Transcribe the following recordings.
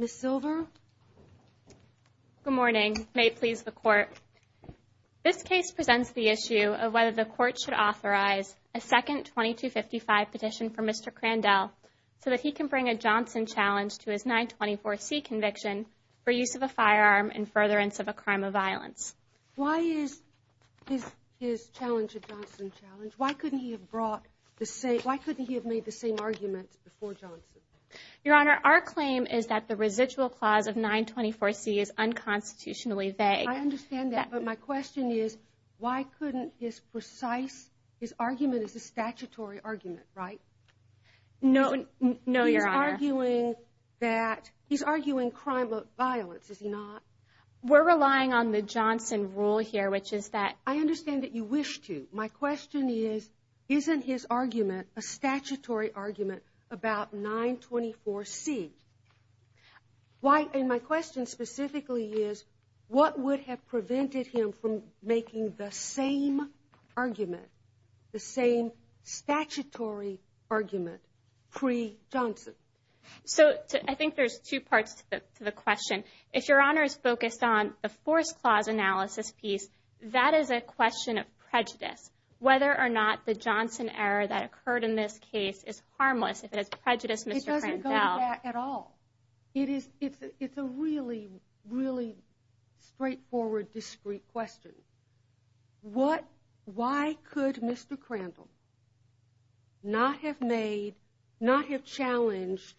Ms. Silver? Good morning. May it please the Court, this case presents the issue of whether the Court should authorize a second 2255 petition for Mr. Crandell so that he can bring a Johnson challenge to his 924C conviction for use of a firearm in furtherance of a crime of violence. Why is his challenge a Johnson challenge? Why couldn't he have made the same arguments before Johnson? Your Honor, our claim is that the residual clause of 924C is unconstitutionally vague. I understand that, but my question is, why couldn't his precise, his argument is a statutory argument, right? No, Your Honor. He's arguing that, he's arguing crime of violence, is he not? We're relying on the Johnson rule here, which is that- I understand that you wish to. My question is, isn't his argument a statutory argument about 924C? And my question specifically is, what would have prevented him from making the same argument, the same statutory argument, pre-Johnson? So I think there's two parts to the question. If Your Honor is focused on the forced clause analysis piece, that is a question of prejudice. Whether or not the Johnson error that occurred in this case is harmless, if it is prejudice, Mr. Crandell- It's a really, really straightforward, discreet question. Why could Mr. Crandell not have made, not have challenged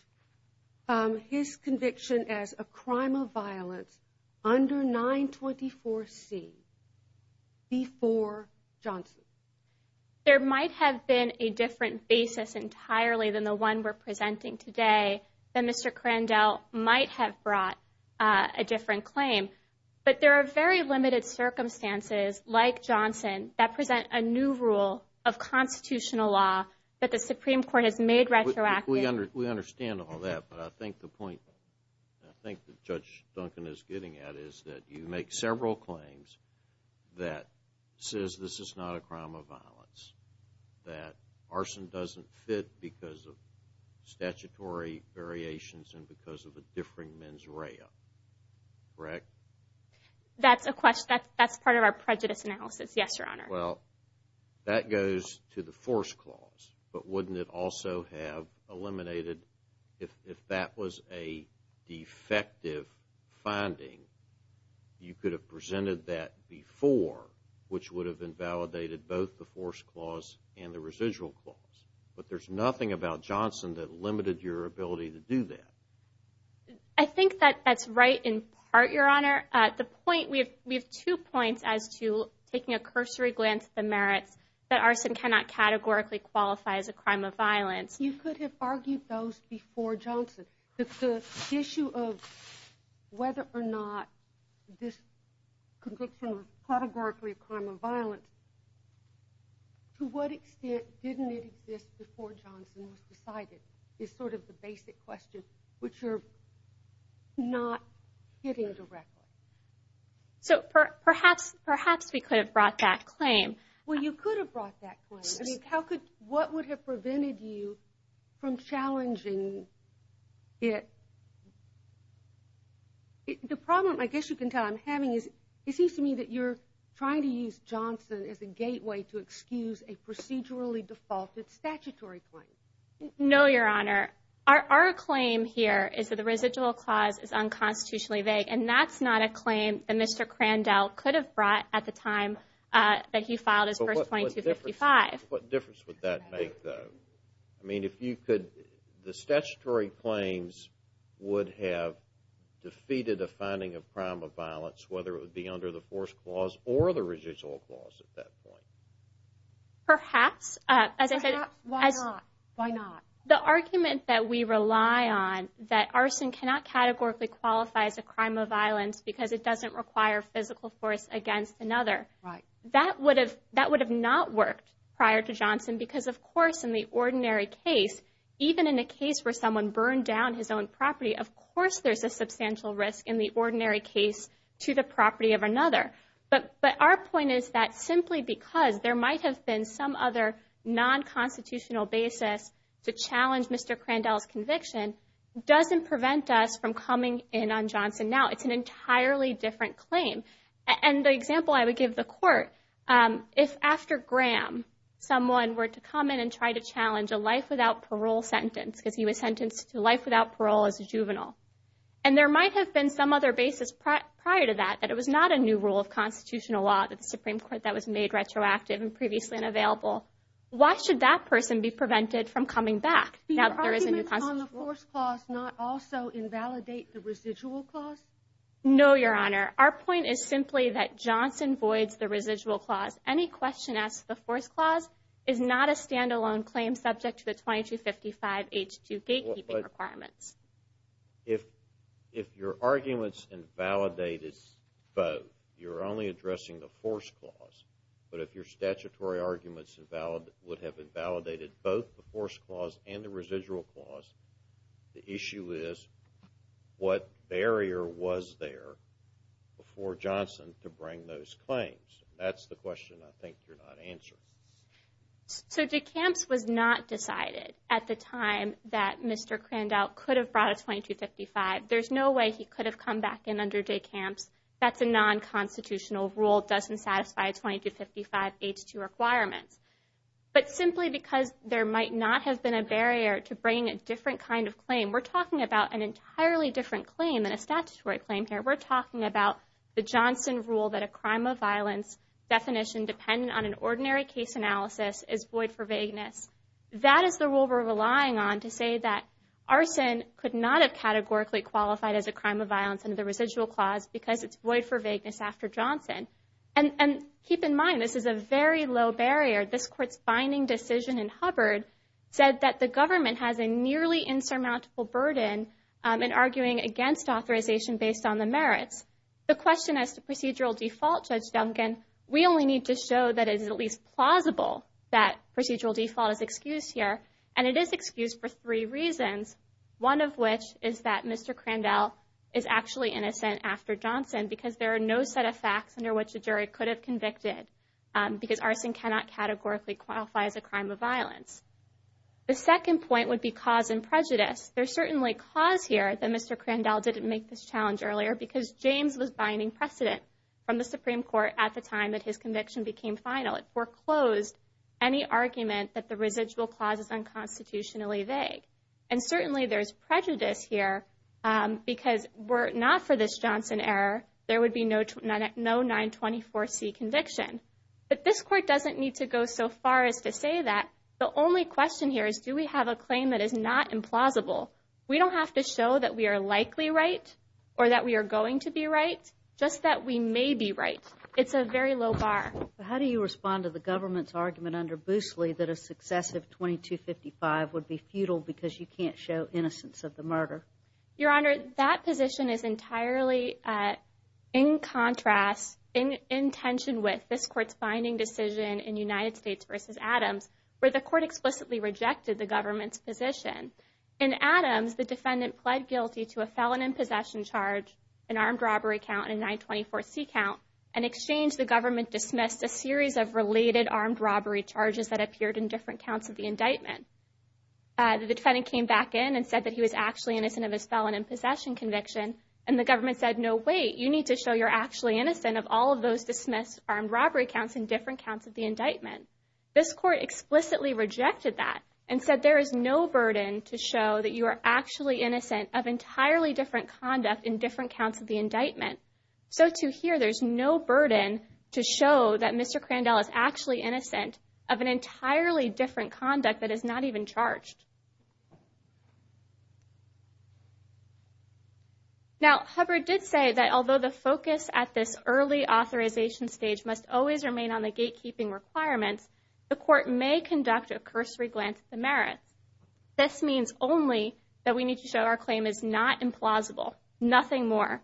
his conviction as a crime of violence under 924C before Johnson? There might have been a different basis entirely than the one we're presenting today that Mr. Crandell might have brought a different claim, but there are very limited circumstances like Johnson that present a new rule of constitutional law that the Supreme Court has made retroactive. We understand all that, but I think the point that Judge Duncan is getting at is that you make several claims that says this is not a crime of violence, that arson doesn't fit because of statutory variations and because of the differing mens rea, correct? That's a question, that's part of our prejudice analysis, yes, Your Honor. Well, that goes to the forced clause, but wouldn't it also have eliminated, if that was a defective finding, you could have presented that before, which would have invalidated both the forced clause and the residual clause, but there's nothing about Johnson that limited your ability to do that. I think that that's right in part, Your Honor. The point, we have two points as to taking a cursory glance at the merits that arson cannot categorically qualify as a crime of violence. You could have argued those before Johnson, but the issue of whether or not this conviction is categorically a crime of violence, to what extent didn't it exist before Johnson was decided is sort of the basic question, which you're not getting directly. So perhaps we could have brought that claim. Well, you could have brought that claim. What would have prevented you from challenging it? The problem, I guess you can tell, I'm having is, it seems to me that you're trying to use Johnson as a gateway to excuse a procedurally defaulted statutory claim. No, Your Honor. Our claim here is that the residual clause is unconstitutionally vague, and that's not a claim that Mr. Crandell could have brought at the time that he filed his first 2255. What difference would that make, though? I mean, if you could, the statutory claims would have defeated a finding of crime of violence, whether it would be under the force clause or the residual clause at that point. Perhaps. Why not? Why not? The argument that we rely on, that arson cannot categorically qualify as a crime of violence because it doesn't require physical force against another, that would have not worked prior to Johnson because, of course, in the ordinary case, even in a case where someone burned down his own property, of course there's a substantial risk in the ordinary case to the property of another. But our point is that simply because there might have been some other non-constitutional basis to challenge Mr. Crandell's conviction doesn't prevent us from coming in on Johnson now. It's an entirely different claim. And the example I would give the court, if after Graham someone were to come in and try to challenge a life without parole sentence, because he was sentenced to life without parole as a juvenile, and there might have been some other basis prior to that, that it was not a new rule of constitutional law that the Supreme Court that was made retroactive and previously unavailable, why should that person be prevented from coming back now that there is a new constitution? Do your arguments on the force clause not also invalidate the residual clause? No, Your Honor. Our point is simply that Johnson voids the residual clause. Any question as to the force clause is not a stand-alone claim subject to the 2255H2 gatekeeping requirements. If your arguments invalidate both, you're only addressing the force clause, but if your statutory arguments would have invalidated both the force clause and the residual clause, the issue is what barrier was there before Johnson to bring those claims? That's the question I think you're not answering. So DeCamps was not decided at the time that Mr. Crandell could have brought a 2255. There's no way he could have come back in under DeCamps. That's a non-constitutional rule. Doesn't satisfy a 2255H2 requirement. But simply because there might not have been a barrier to bringing a different kind of claim, we're talking about an entirely different claim than a statutory claim here. We're talking about the Johnson rule that a crime of violence definition dependent on an ordinary case analysis is void for vagueness. That is the rule we're relying on to say that arson could not have categorically qualified as a crime of violence under the residual clause because it's void for vagueness after Johnson. And keep in mind, this is a very low barrier. This court's binding decision in Hubbard said that the government has a nearly insurmountable burden in arguing against authorization based on the merits. The question as to procedural default, Judge Duncan, we only need to show that it is at least plausible that procedural default is excused here. And it is excused for three reasons. One of which is that Mr. Crandell is actually innocent after Johnson because there are no set of facts under which a jury could have convicted because arson cannot categorically qualify as a crime of violence. The second point would be cause and prejudice. There's certainly cause here that Mr. Crandell didn't make this challenge earlier because James was binding precedent from the Supreme Court at the time that his conviction became final. It foreclosed any argument that the residual clause is unconstitutionally vague. And certainly there's prejudice here because were it not for this Johnson error, there would be no 924C conviction. But this court doesn't need to go so far as to say that. The only question here is do we have a claim that is not implausible? We don't have to show that we are likely right or that we are going to be right. Just that we may be right. It's a very low bar. How do you respond to the government's argument under Boosley that a successive 2255 would be futile because you can't show innocence of the murder? Your Honor, that position is entirely in contrast, in tension with this court's binding decision in United States v. Adams where the court explicitly rejected the government's position. In Adams, the defendant pled guilty to a felon in possession charge, an armed robbery count, and a 924C count. In exchange, the government dismissed a series of related armed robbery charges that appeared in different counts of the indictment. The defendant came back in and said that he was actually innocent of his felon in possession conviction and the government said, no, wait, you need to show you're actually innocent of all of those dismissed armed robbery counts in different counts of the indictment. This court explicitly rejected that and said there is no burden to show that you are actually innocent of entirely different conduct in different counts of the indictment. So to here, there's no burden to show that Mr. Crandell is actually innocent of an entirely different conduct that is not even charged. Now Hubbard did say that although the focus at this early authorization stage must always remain on the gatekeeping requirements, the court may conduct a cursory glance at the merits. This means only that we need to show our claim is not implausible, nothing more.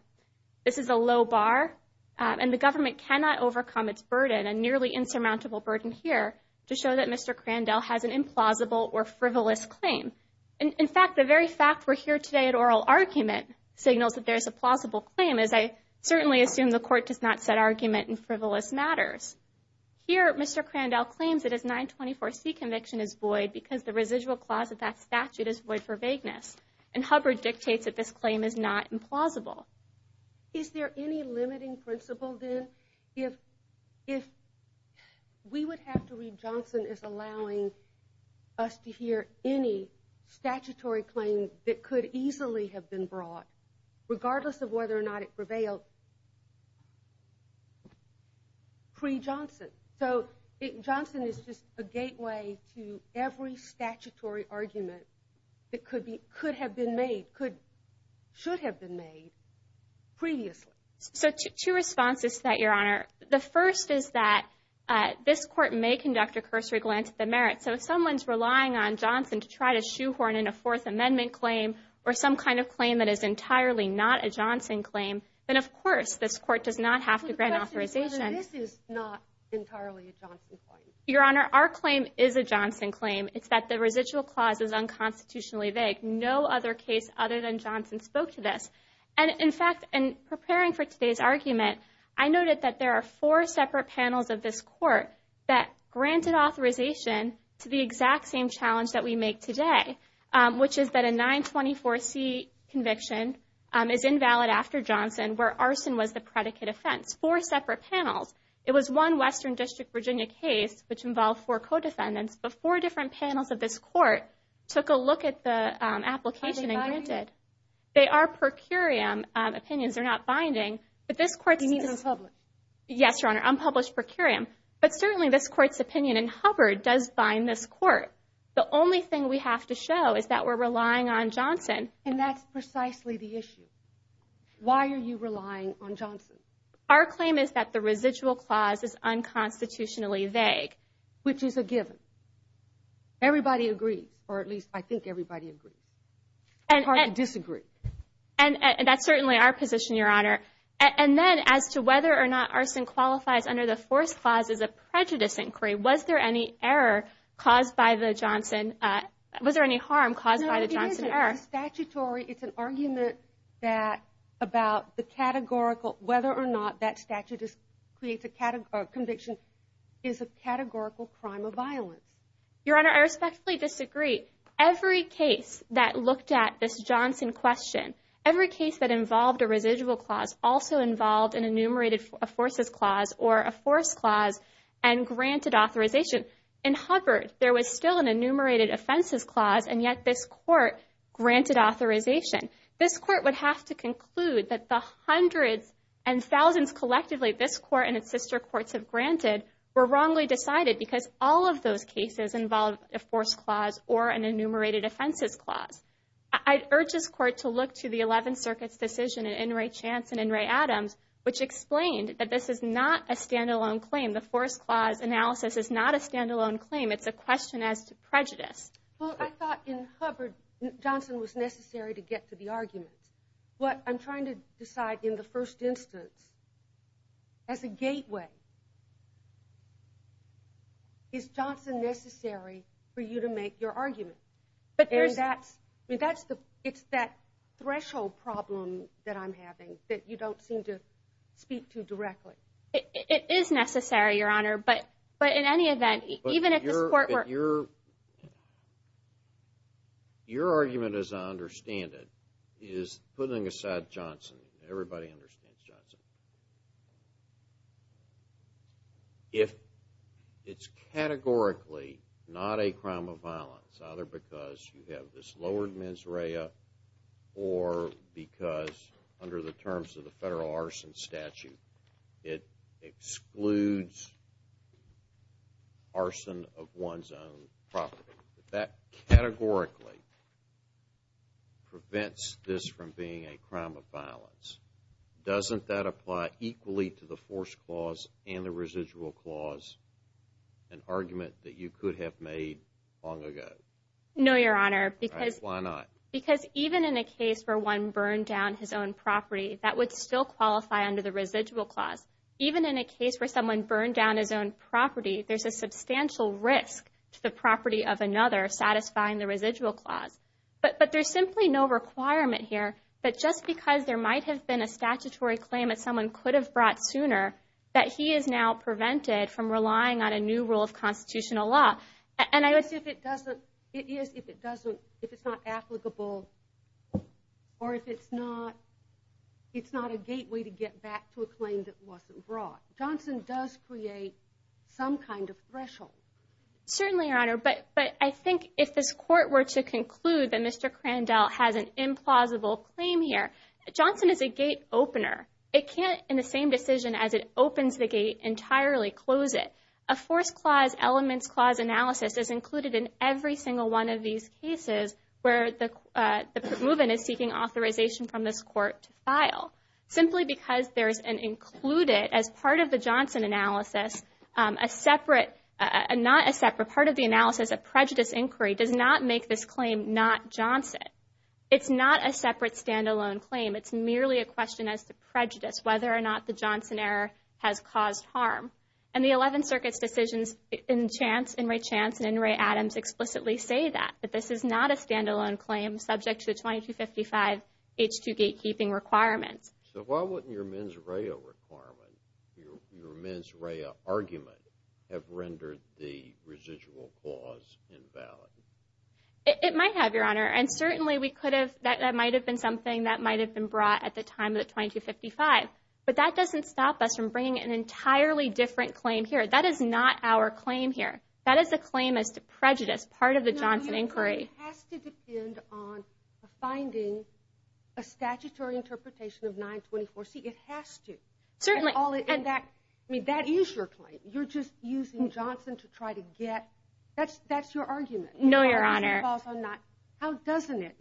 This is a low bar and the government cannot overcome its burden, a nearly insurmountable burden here, to show that Mr. Crandell has an implausible or frivolous claim. In fact, the very fact we're here today at oral argument signals that there's a plausible claim as I certainly assume the court does not set argument in frivolous matters. Here Mr. Crandell claims that his 924C conviction is void because the residual clause of that statute is void for vagueness and Hubbard dictates that this claim is not implausible. Is there any limiting principle then if we would have to read Johnson as allowing us to hear any statutory claim that could easily have been brought, regardless of whether or not it prevailed, pre-Johnson? So Johnson is just a gateway to every statutory argument that could have been made, should have been made, previously. So two responses to that, Your Honor. The first is that this court may conduct a cursory glance at the merits, so if someone's relying on Johnson to try to shoehorn in a Fourth Amendment claim or some kind of claim that is entirely not a Johnson claim, then of course this court does not have to grant authorization. But the question is whether this is not entirely a Johnson claim. Your Honor, our claim is a Johnson claim. It's that the residual clause is unconstitutionally vague. No other case other than Johnson spoke to this. And in fact, in preparing for today's argument, I noted that there are four separate panels of this court that granted authorization to the exact same challenge that we make today, which is that a 924C conviction is invalid after Johnson where arson was the predicate offense. Four separate panels. It was one Western District, Virginia case, which involved four co-defendants, but four different panels of this court took a look at the application and granted. They are per curiam opinions. They're not binding. But this court's... You mean unpublished? Yes, Your Honor. Unpublished per curiam. But certainly this court's opinion in Hubbard does bind this court. The only thing we have to show is that we're relying on Johnson. And that's precisely the issue. Why are you relying on Johnson? Our claim is that the residual clause is unconstitutionally vague. Which is a given. Everybody agrees. Or at least I think everybody agrees. And hardly disagree. And that's certainly our position, Your Honor. And then as to whether or not arson qualifies under the fourth clause as a prejudice inquiry, was there any error caused by the Johnson... Was there any harm caused by the Johnson error? No, it isn't. It's statutory. It's an argument that about the categorical, whether or not that statute creates a conviction is a categorical crime of violence. Your Honor, I respectfully disagree. Every case that looked at this Johnson question, every case that involved a residual clause also involved an enumerated forces clause or a force clause and granted authorization. In Hubbard, there was still an enumerated offenses clause and yet this court granted authorization. This court would have to conclude that the hundreds and thousands collectively this court and its sister courts have granted were wrongly decided because all of those cases involved a force clause or an enumerated offenses clause. I urge this court to look to the 11th Circuit's decision in In re Chance and In re Adams, which explained that this is not a standalone claim. The force clause analysis is not a standalone claim. It's a question as to prejudice. Well, I thought in Hubbard, Johnson was necessary to get to the argument. What I'm trying to decide in the first instance, as a gateway, is Johnson necessary for you to make your argument? But that's, it's that threshold problem that I'm having that you don't seem to speak to directly. It is necessary, Your Honor, but in any event, even if the court were... Your argument, as I understand it, is putting aside Johnson, everybody understands Johnson. If it's categorically not a crime of violence, either because you have this lowered mens media or because under the terms of the federal arson statute, it excludes arson of one's own property. That categorically prevents this from being a crime of violence. Doesn't that apply equally to the force clause and the residual clause, an argument that you could have made long ago? No, Your Honor, because... Because even in a case where one burned down his own property, that would still qualify under the residual clause. Even in a case where someone burned down his own property, there's a substantial risk to the property of another satisfying the residual clause. But there's simply no requirement here, but just because there might have been a statutory claim that someone could have brought sooner, that he is now prevented from relying on a new rule of constitutional law. And I would say if it doesn't, it is if it doesn't, if it's not applicable, or if it's not, it's not a gateway to get back to a claim that wasn't brought. Johnson does create some kind of threshold. Certainly, Your Honor, but I think if this court were to conclude that Mr. Crandell has an implausible claim here, Johnson is a gate opener. It can't, in the same decision as it opens the gate entirely, close it. A forced clause, elements clause analysis is included in every single one of these cases where the move-in is seeking authorization from this court to file. Simply because there's an included, as part of the Johnson analysis, a separate... Not a separate, part of the analysis, a prejudice inquiry does not make this claim not Johnson. It's not a separate standalone claim. It's merely a question as to prejudice, whether or not the Johnson error has caused harm. And the 11th Circuit's decisions in Chance, in Ray Chance, and in Ray Adams explicitly say that. That this is not a standalone claim subject to the 2255 H2 gatekeeping requirements. So why wouldn't your mens rea requirement, your mens rea argument, have rendered the residual clause invalid? It might have, Your Honor. And certainly we could have, that might have been something that might have been brought at the time of the 2255. But that doesn't stop us from bringing an entirely different claim here. That is not our claim here. That is a claim as to prejudice, part of the Johnson inquiry. It has to depend on finding a statutory interpretation of 924C. It has to. Certainly. I mean, that is your claim. You're just using Johnson to try to get... That's your argument. No, Your Honor. How doesn't it?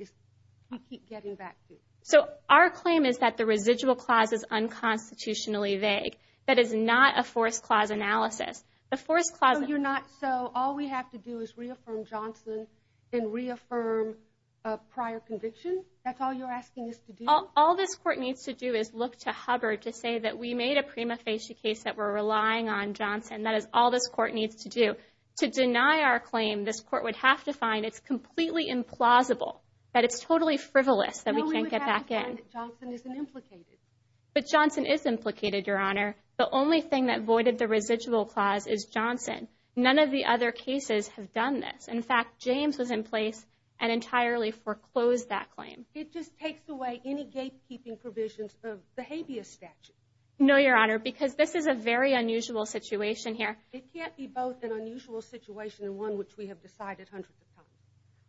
You keep getting back to it. So our claim is that the residual clause is unconstitutionally vague. That is not a forced clause analysis. The forced clause... So you're not... So all we have to do is reaffirm Johnson and reaffirm a prior conviction? That's all you're asking us to do? All this court needs to do is look to Hubbard to say that we made a prima facie case that we're relying on Johnson. That is all this court needs to do. To deny our claim, this court would have to find it's completely implausible. That it's totally frivolous. That we can't get back in. No, we would have to find it. Johnson isn't implicated. But Johnson is implicated, Your Honor. The only thing that voided the residual clause is Johnson. None of the other cases have done this. In fact, James was in place and entirely foreclosed that claim. It just takes away any gatekeeping provisions of the habeas statute. No, Your Honor. Because this is a very unusual situation here. It can't be both an unusual situation and one which we have decided hundreds of times.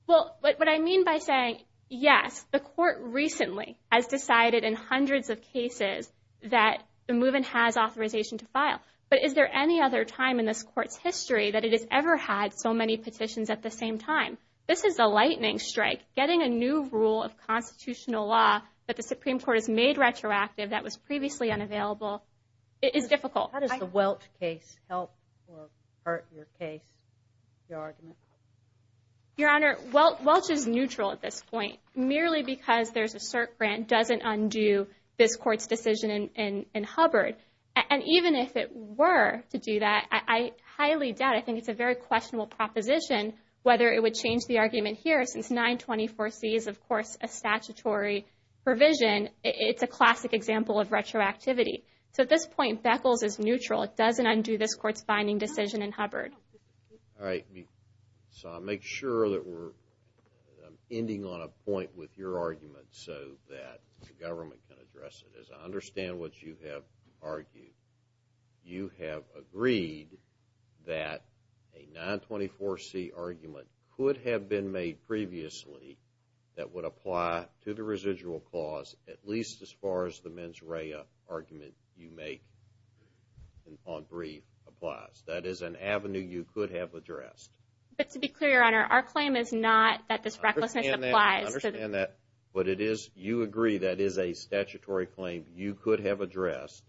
Well, what I mean by saying, yes, the court recently has decided in hundreds of cases that the move-in has authorization to file. But is there any other time in this court's history that it has ever had so many petitions at the same time? This is a lightning strike. Getting a new rule of constitutional law that the Supreme Court has made retroactive that was previously unavailable is difficult. How does the Welch case help or hurt your case, your argument? Your Honor, Welch is neutral at this point merely because there's a cert grant doesn't undo this court's decision in Hubbard. And even if it were to do that, I highly doubt, I think it's a very questionable proposition whether it would change the argument here since 924C is, of course, a statutory provision. It's a classic example of retroactivity. So at this point, Beckles is neutral. It doesn't undo this court's binding decision in Hubbard. All right. So I'll make sure that we're ending on a point with your argument so that the government can address it. As I understand what you have argued, you have agreed that a 924C argument could have been made previously that would apply to the residual clause at least as far as the mens rea argument you make on brief applies. That is an avenue you could have addressed. But to be clear, Your Honor, our claim is not that this recklessness applies. I understand that. I understand that. But it is, you agree that is a statutory claim you could have addressed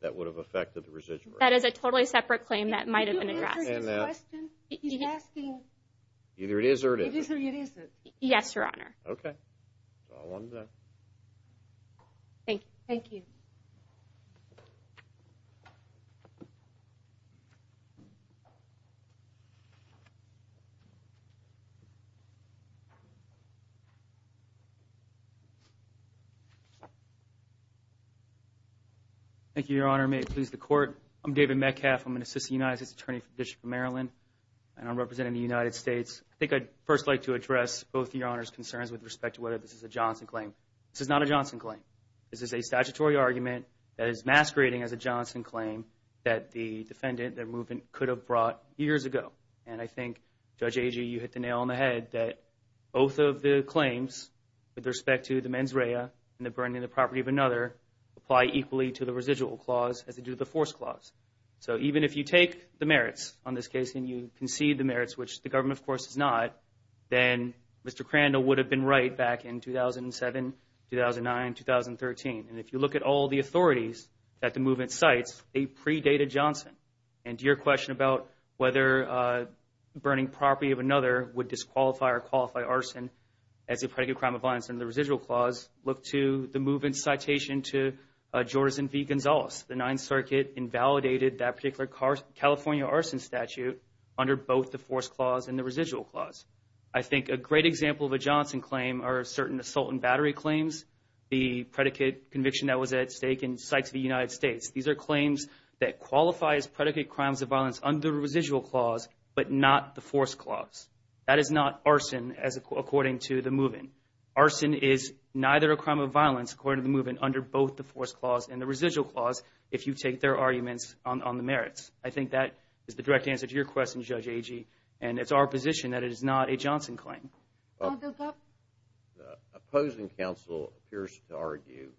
that would have affected the residual. That is a totally separate claim that might have been addressed. Did you answer his question? He's asking. Either it is or it isn't. It is or it isn't. Yes, Your Honor. Okay. That's all I wanted to know. Thank you. Thank you, Your Honor. May it please the Court. I'm David Metcalfe. I'm an Assistant United States Attorney for the District of Maryland and I'm representing the United States. I think I'd first like to address both of Your Honor's concerns with respect to whether this is a Johnson claim. This is not a Johnson claim. This is a statutory argument that is masquerading as a Johnson claim that the defendant that the movement could have brought years ago. And I think, Judge Agee, you hit the nail on the head that both of the claims with respect to the mens rea and the burning of the property of another apply equally to the residual clause as they do to the force clause. So even if you take the merits on this case and you concede the merits, which the government, of course, does not, then Mr. Crandall would have been right back in 2007, 2009, 2013. And if you look at all the authorities that the movement cites, they predate a Johnson. And to your question about whether burning property of another would disqualify or qualify arson as a predicate crime of violence under the residual clause, look to the movement's citation to Jordans and V. Gonzales. The Ninth Circuit invalidated that particular California arson statute under both the force clause and the residual clause. I think a great example of a Johnson claim are certain assault and battery claims. The predicate conviction that was at stake in Sykes v. United States. These are claims that qualify as predicate crimes of violence under the residual clause, but not the force clause. That is not arson according to the movement. Arson is neither a crime of violence according to the movement under both the force clause and the residual clause if you take their arguments on the merits. I think that is the direct answer to your question, Judge Agee, and it's our position that it is not a Johnson claim. Well, the opposing counsel appears to argue,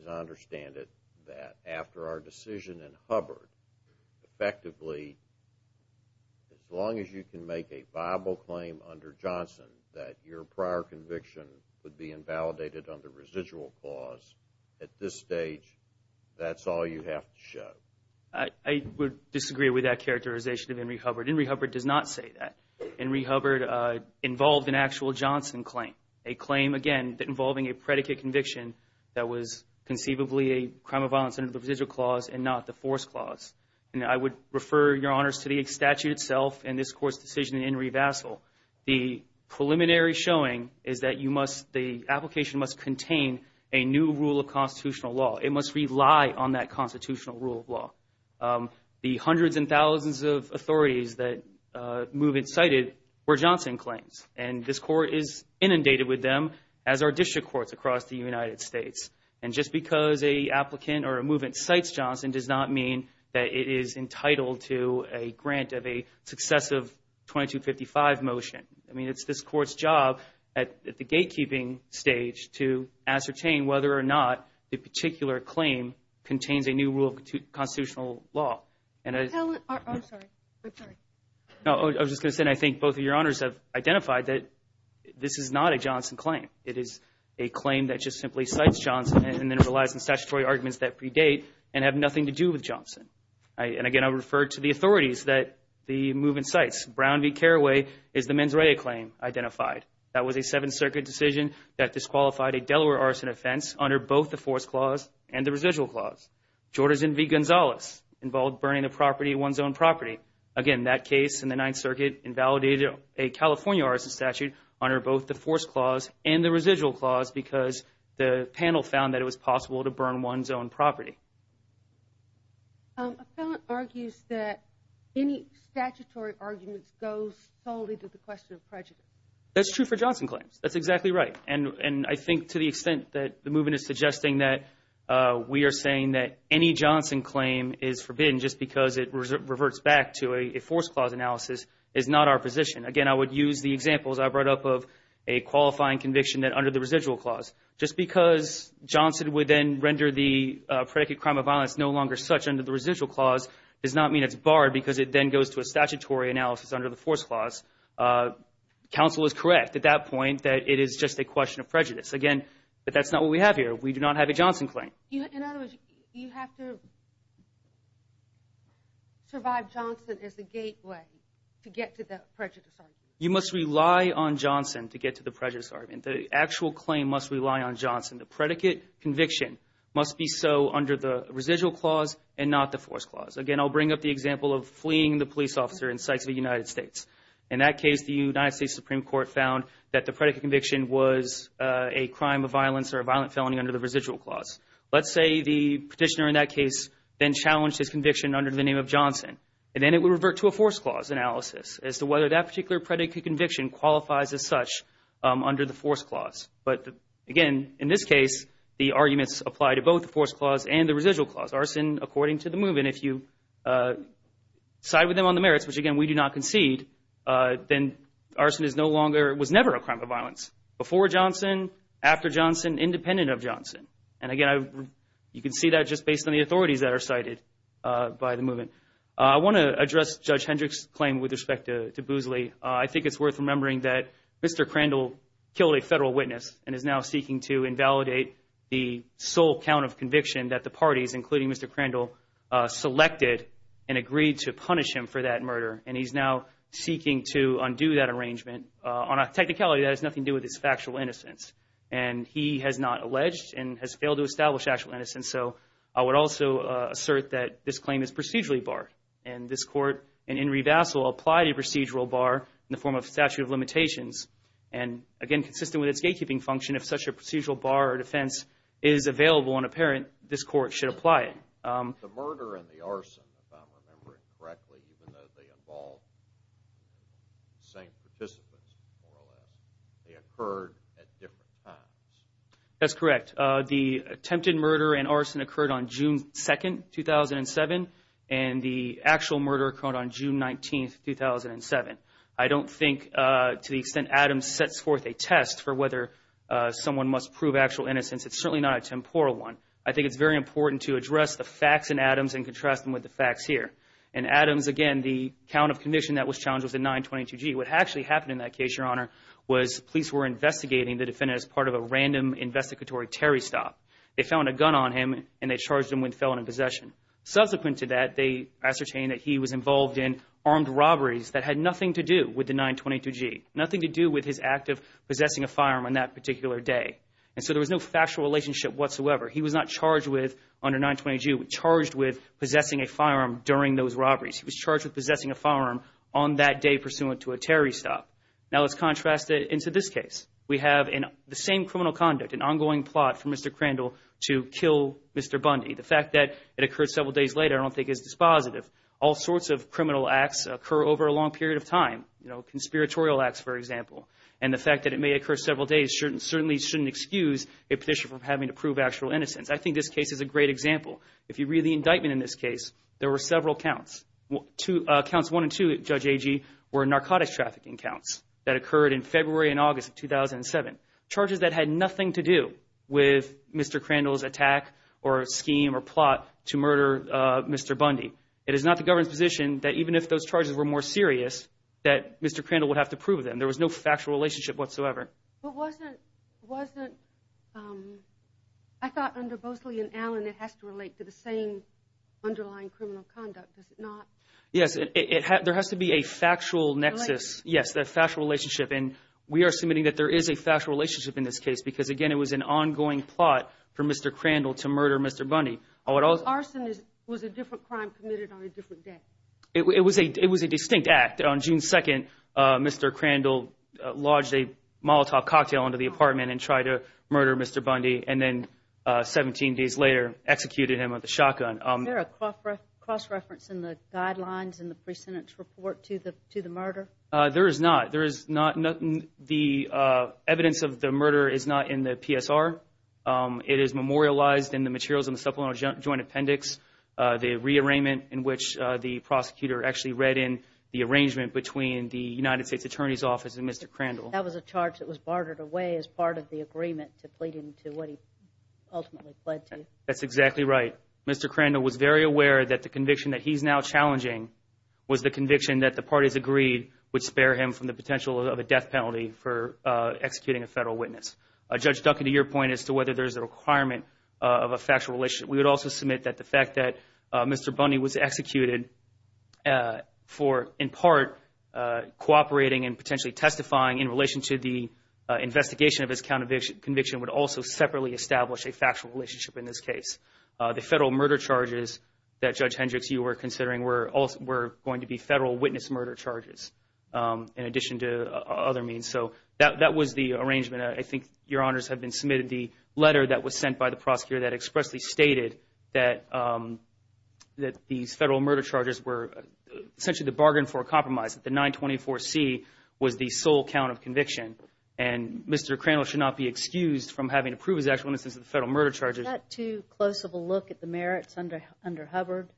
as I understand it, that after our decision in Hubbard, effectively, as long as you can make a viable claim under Johnson that your prior conviction would be invalidated under residual clause, at this stage, that's all you have to show. I would disagree with that characterization of Henry Hubbard. Henry Hubbard does not say that. Henry Hubbard involved an actual Johnson claim, a claim, again, involving a predicate conviction that was conceivably a crime of violence under the residual clause and not the force clause. I would refer your honors to the statute itself and this Court's decision in Henry Vassell. The preliminary showing is that the application must contain a new rule of constitutional law. It must rely on that constitutional rule of law. The hundreds and thousands of authorities that Move It cited were Johnson claims, and this Court is inundated with them as are district courts across the United States. And just because a applicant or a Move It cites Johnson does not mean that it is entitled to a grant of a successive 2255 motion. I mean, it's this Court's job at the gatekeeping stage to ascertain whether or not the particular claim contains a new rule of constitutional law. I'm sorry. I'm sorry. No, I was just going to say I think both of your honors have identified that this is not a Johnson claim. It is a claim that just simply cites Johnson and then relies on statutory arguments that predate and have nothing to do with Johnson. And again, I refer to the authorities that the Move It cites. Brown v. Caraway is the mens rea claim identified. That was a Seventh Circuit decision that disqualified a Delaware arson offense under both the force clause and the residual clause. Jordan v. Gonzalez involved burning the property, one's own property. Again, that case in the Ninth Circuit invalidated a California arson statute under both the force clause and the residual clause because the panel found that it was possible to burn one's own property. A felon argues that any statutory arguments goes totally to the question of prejudice. That's true for Johnson claims. That's exactly right. And I think to the extent that the Move It is suggesting that we are saying that any Johnson claim is forbidden just because it reverts back to a force clause analysis is not our position. Again, I would use the examples I brought up of a qualifying conviction that under the residual clause. Just because Johnson would then render the predicate crime of violence no longer such under the residual clause does not mean it's barred because it then goes to a statutory analysis under the force clause. Counsel is correct at that point that it is just a question of prejudice. Again, but that's not what we have here. We do not have a Johnson claim. In other words, you have to survive Johnson as the gateway to get to the prejudice argument. You must rely on Johnson to get to the prejudice argument. The actual claim must rely on Johnson. The predicate conviction must be so under the residual clause and not the force clause. Again, I'll bring up the example of fleeing the police officer in sites of the United States. In that case, the United States Supreme Court found that the predicate conviction was a crime of violence or a violent felony under the residual clause. Let's say the petitioner in that case then challenged his conviction under the name of Johnson and then it would revert to a force clause analysis as to whether that particular predicate conviction qualifies as such under the force clause. But again, in this case, the arguments apply to both the force clause and the residual clause. Arson, according to the movement, if you side with them on the merits, which again, we do not concede, then arson is no longer, was never a crime of violence. Before Johnson, after Johnson, independent of Johnson. And again, you can see that just based on the authorities that are cited by the movement. I want to address Judge Hendrick's claim with respect to Boosley. I think it's worth remembering that Mr. Crandall killed a federal witness and is now seeking to invalidate the sole count of conviction that the parties, including Mr. Crandall, selected and agreed to punish him for that murder. And he's now seeking to undo that arrangement on a technicality that has nothing to do with his factual innocence. And he has not alleged and has failed to establish actual innocence. So I would also assert that this claim is procedurally barred. And this Court, in revassal, applied a procedural bar in the form of statute of limitations. And again, consistent with its gatekeeping function, if such a procedural bar or defense is available and apparent, this Court should apply it. The murder and the arson, if I'm remembering correctly, even though they involved the same participants, more or less, they occurred at different times. That's correct. The attempted murder and arson occurred on June 2nd, 2007. And the actual murder occurred on June 19th, 2007. I don't think, to the extent Adams sets forth a test for whether someone must prove actual innocence, it's certainly not a temporal one. I think it's very important to address the facts in Adams and contrast them with the facts here. In Adams, again, the count of conviction that was challenged was a 922-G. What actually happened in that case, Your Honor, was police were investigating the defendant as part of a random investigatory terry stop. They found a gun on him and they charged him with felon in possession. Subsequent to that, they ascertained that he was involved in armed robberies that had nothing to do with the 922-G, nothing to do with his act of possessing a firearm on that particular day. And so there was no factual relationship whatsoever. He was not charged with, under 922-G, charged with possessing a firearm during those robberies. He was charged with possessing a firearm on that day pursuant to a terry stop. Now let's contrast it into this case. We have the same criminal conduct, an ongoing plot for Mr. Crandall to kill Mr. Bundy. The fact that it occurred several days later I don't think is dispositive. All sorts of criminal acts occur over a long period of time, you know, conspiratorial acts, for example. And the fact that it may occur several days certainly shouldn't excuse a petitioner from having to prove actual innocence. I think this case is a great example. If you read the indictment in this case, there were several counts. Counts 1 and 2, Judge Agee, were narcotics trafficking counts that occurred in February and August of 2007, charges that had nothing to do with Mr. Crandall's attack or scheme or plot to murder Mr. Bundy. It is not the government's position that even if those charges were more serious, that Mr. Crandall would have to prove them. There was no factual relationship whatsoever. But wasn't, wasn't, I thought under Bosley and Allen it has to relate to the same underlying criminal conduct. Does it not? Yes, there has to be a factual nexus, yes, that factual relationship. And we are submitting that there is a factual relationship in this case because, again, it was an ongoing plot for Mr. Crandall to murder Mr. Bundy. Arson was a different crime committed on a different day. It was a distinct act. On June 2nd, Mr. Crandall lodged a Molotov cocktail into the apartment and tried to murder Mr. Bundy and then 17 days later executed him with a shotgun. Is there a cross-reference in the guidelines in the pre-sentence report to the murder? There is not. There is not. The evidence of the murder is not in the PSR. It is memorialized in the materials in the supplemental joint appendix, the rearrangement in which the prosecutor actually read in the arrangement between the United States Attorney's Office and Mr. Crandall. That was a charge that was bartered away as part of the agreement to plead him to what he ultimately pled to. That's exactly right. Mr. Crandall was very aware that the conviction that he's now challenging was the conviction that the parties agreed would spare him from the potential of a death penalty for executing a federal witness. Judge Duncan, to your point as to whether there's a requirement of a factual relationship, we would also submit that the fact that Mr. Bundy was executed for, in part, cooperating and potentially testifying in relation to the investigation of his conviction would also separately establish a factual relationship in this case. The federal murder charges that Judge Hendricks, you were considering were going to be federal witness murder charges in addition to other means. So that was the arrangement. I think, Your Honors, have been submitted the letter that was sent by the prosecutor that expressly stated that these federal murder charges were essentially the bargain for a compromise, that the 924C was the sole count of conviction. And Mr. Crandall should not be excused from having to prove his actual innocence of the federal murder charges. Is that too close of a look at the merits under Hubbard?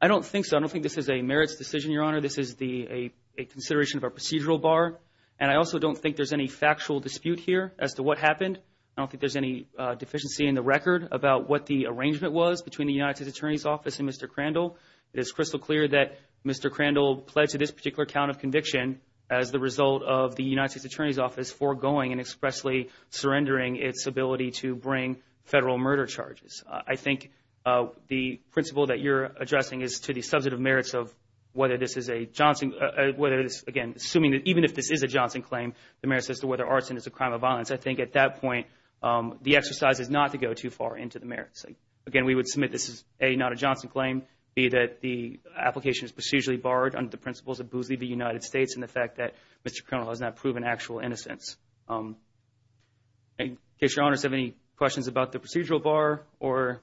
I don't think so. I don't think this is a merits decision, Your Honor. This is a consideration of a procedural bar. And I also don't think there's any factual dispute here as to what happened. I don't think there's any deficiency in the record about what the arrangement was between the United States Attorney's Office and Mr. Crandall. It is crystal clear that Mr. Crandall pledged to this particular count of conviction as the result of the United States Attorney's Office foregoing and expressly surrendering its ability to bring federal murder charges. I think the principle that you're addressing is to the substantive merits of whether this is a Johnson, whether this, again, assuming that even if this is a Johnson claim, the merits as to whether arson is a crime of violence. I think at that point, the exercise is not to go too far into the merits. Again, we would submit this is, A, not a Johnson claim, B, that the application is procedurally barred under the principles of Boozley v. United States and the fact that Mr. Crandall has not proven actual innocence. In case Your Honors have any questions about the procedural bar or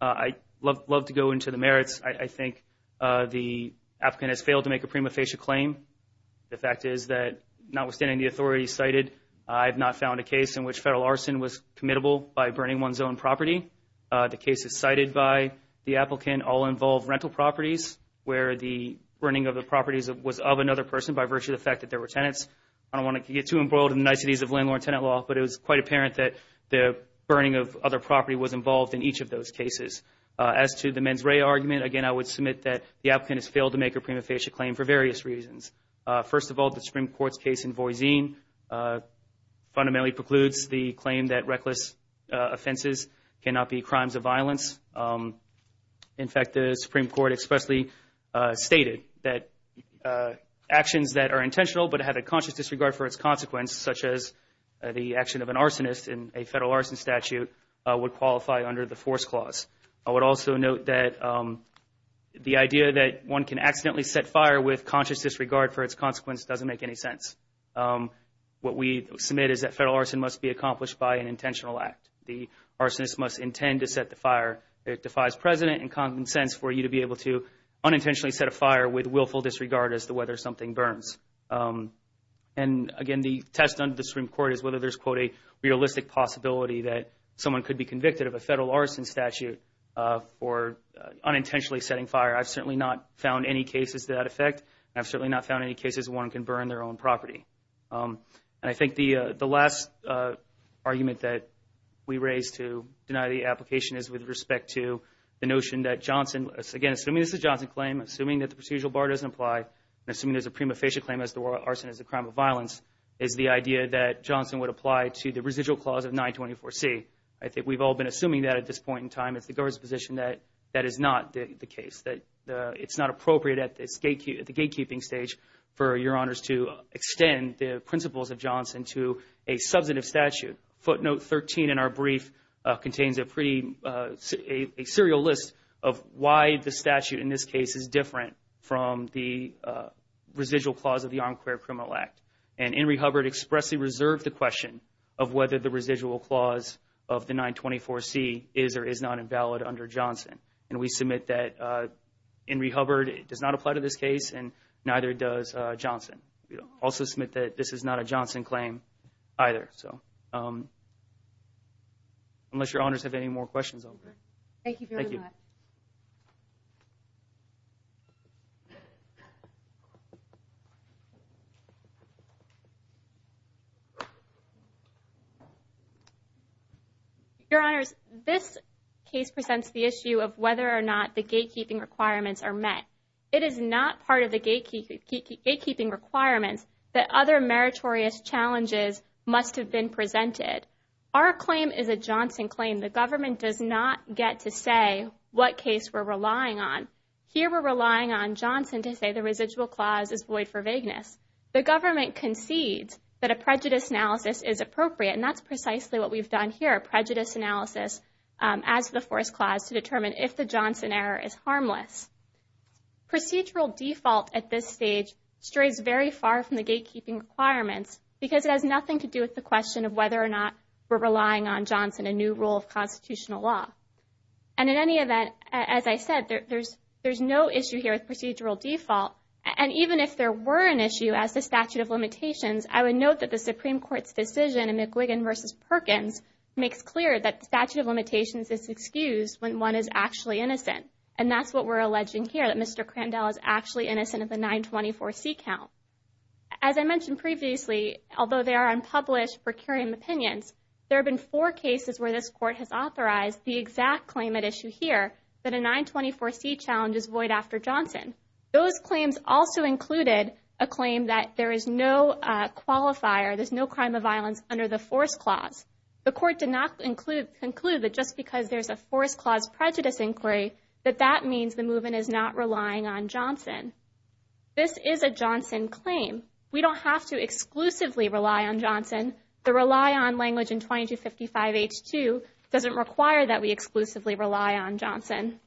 I'd love to go into the merits, I think the applicant has failed to make a prima facie claim. The fact is that notwithstanding the authority cited, I have not found a case in which federal arson was committable by burning one's own property. The cases cited by the applicant all involve rental properties where the burning of the properties was of another person by virtue of the fact that there were tenants. I don't want to get too embroiled in the niceties of landlord-tenant law, but it was quite apparent that the burning of other property was involved in each of those cases. As to the mens rea argument, again, I would submit that the applicant has failed to make a prima facie claim for various reasons. First of all, the Supreme Court's case in Voisin fundamentally precludes the claim that reckless offenses cannot be crimes of violence. In fact, the Supreme Court expressly stated that actions that are intentional but have a conscious disregard for its consequence, such as the action of an arsonist in a federal arson statute, would qualify under the force clause. I would also note that the idea that one can accidentally set fire with conscious disregard for its consequence doesn't make any sense. What we submit is that federal arson must be accomplished by an intentional act. The arsonist must intend to set the fire that defies precedent and common sense for you to be able to unintentionally set a fire with willful disregard as to whether something burns. Again, the test under the Supreme Court is whether there's a, quote, realistic possibility that someone could be convicted of a federal arson statute for unintentionally setting fire. I've certainly not found any cases to that effect, and I've certainly not found any cases where one can burn their own property. I think the last argument that we raise to deny the application is with respect to the notion that Johnson, again, assuming this is a Johnson claim, assuming that the procedural bar doesn't apply, and assuming there's a prima facie claim as to why arson is a crime of violence, is the idea that Johnson would apply to the residual clause of 924C. I think we've all been assuming that at this point in time. It's the government's position that that is not the case, that it's not appropriate at the gatekeeping stage for your honors to extend the principles of Johnson to a substantive statute. Footnote 13 in our brief contains a pretty, a serial list of why the statute in this case is different from the residual clause of the Armed Career Criminal Act, and Inree Hubbard expressly reserved the question of whether the residual clause of the 924C is or is not invalid under Johnson, and we submit that Inree Hubbard does not apply to this case, and neither does Johnson. We also submit that this is not a Johnson claim either, so unless your honors have any more questions, over. Thank you very much. Your honors, this case presents the issue of whether or not the gatekeeping requirements are met. It is not part of the gatekeeping requirements that other meritorious challenges must have been presented. Our claim is a Johnson claim. The government does not get to say what case we're relying on. Here we're relying on Johnson to say the residual clause is void for vagueness. The government concedes that a prejudice analysis is appropriate, and that's precisely what we've done here, a prejudice analysis as the force clause to determine if the Johnson error is harmless. Procedural default at this stage strays very far from the gatekeeping requirements because it has nothing to do with the question of whether or not we're relying on Johnson, a new rule of constitutional law. And in any event, as I said, there's no issue here with procedural default. And even if there were an issue as the statute of limitations, I would note that the Supreme Court's decision in McGuigan v. Perkins makes clear that the statute of limitations is excused when one is actually innocent, and that's what we're alleging here, that Mr. Crandell is actually innocent of the 924C count. As I mentioned previously, although they are unpublished for carrying opinions, there have been four cases where this Court has authorized the exact claim at issue here, that a 924C challenge is void after Johnson. Those claims also included a claim that there is no qualifier, there's no crime of violence under the force clause. The Court did not conclude that just because there's a force clause prejudice inquiry, that that means the movement is not relying on Johnson. This is a Johnson claim. We don't have to exclusively rely on Johnson. The rely on language in 2255H2 doesn't require that we exclusively rely on Johnson.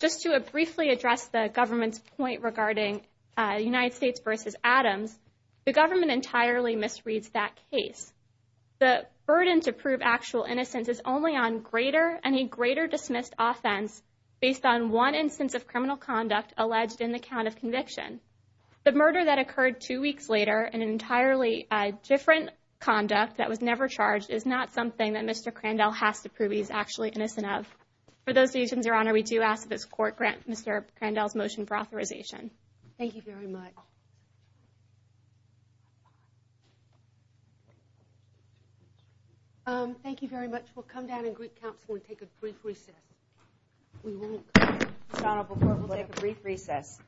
Just to briefly address the government's point regarding United States v. Adams, the government entirely misreads that case. The burden to prove actual innocence is only on greater and a greater dismissed offense based on one instance of criminal conduct alleged in the count of conviction. The murder that occurred two weeks later, an entirely different conduct that was never charged is not something that Mr. Crandell has to prove he's actually innocent of. For those reasons, Your Honor, we do ask that this Court grant Mr. Crandell's motion for authorization. Thank you very much. Thank you very much. We'll come down in Greek Council and take a brief recess. We won't. Your Honor, before we'll take a brief recess.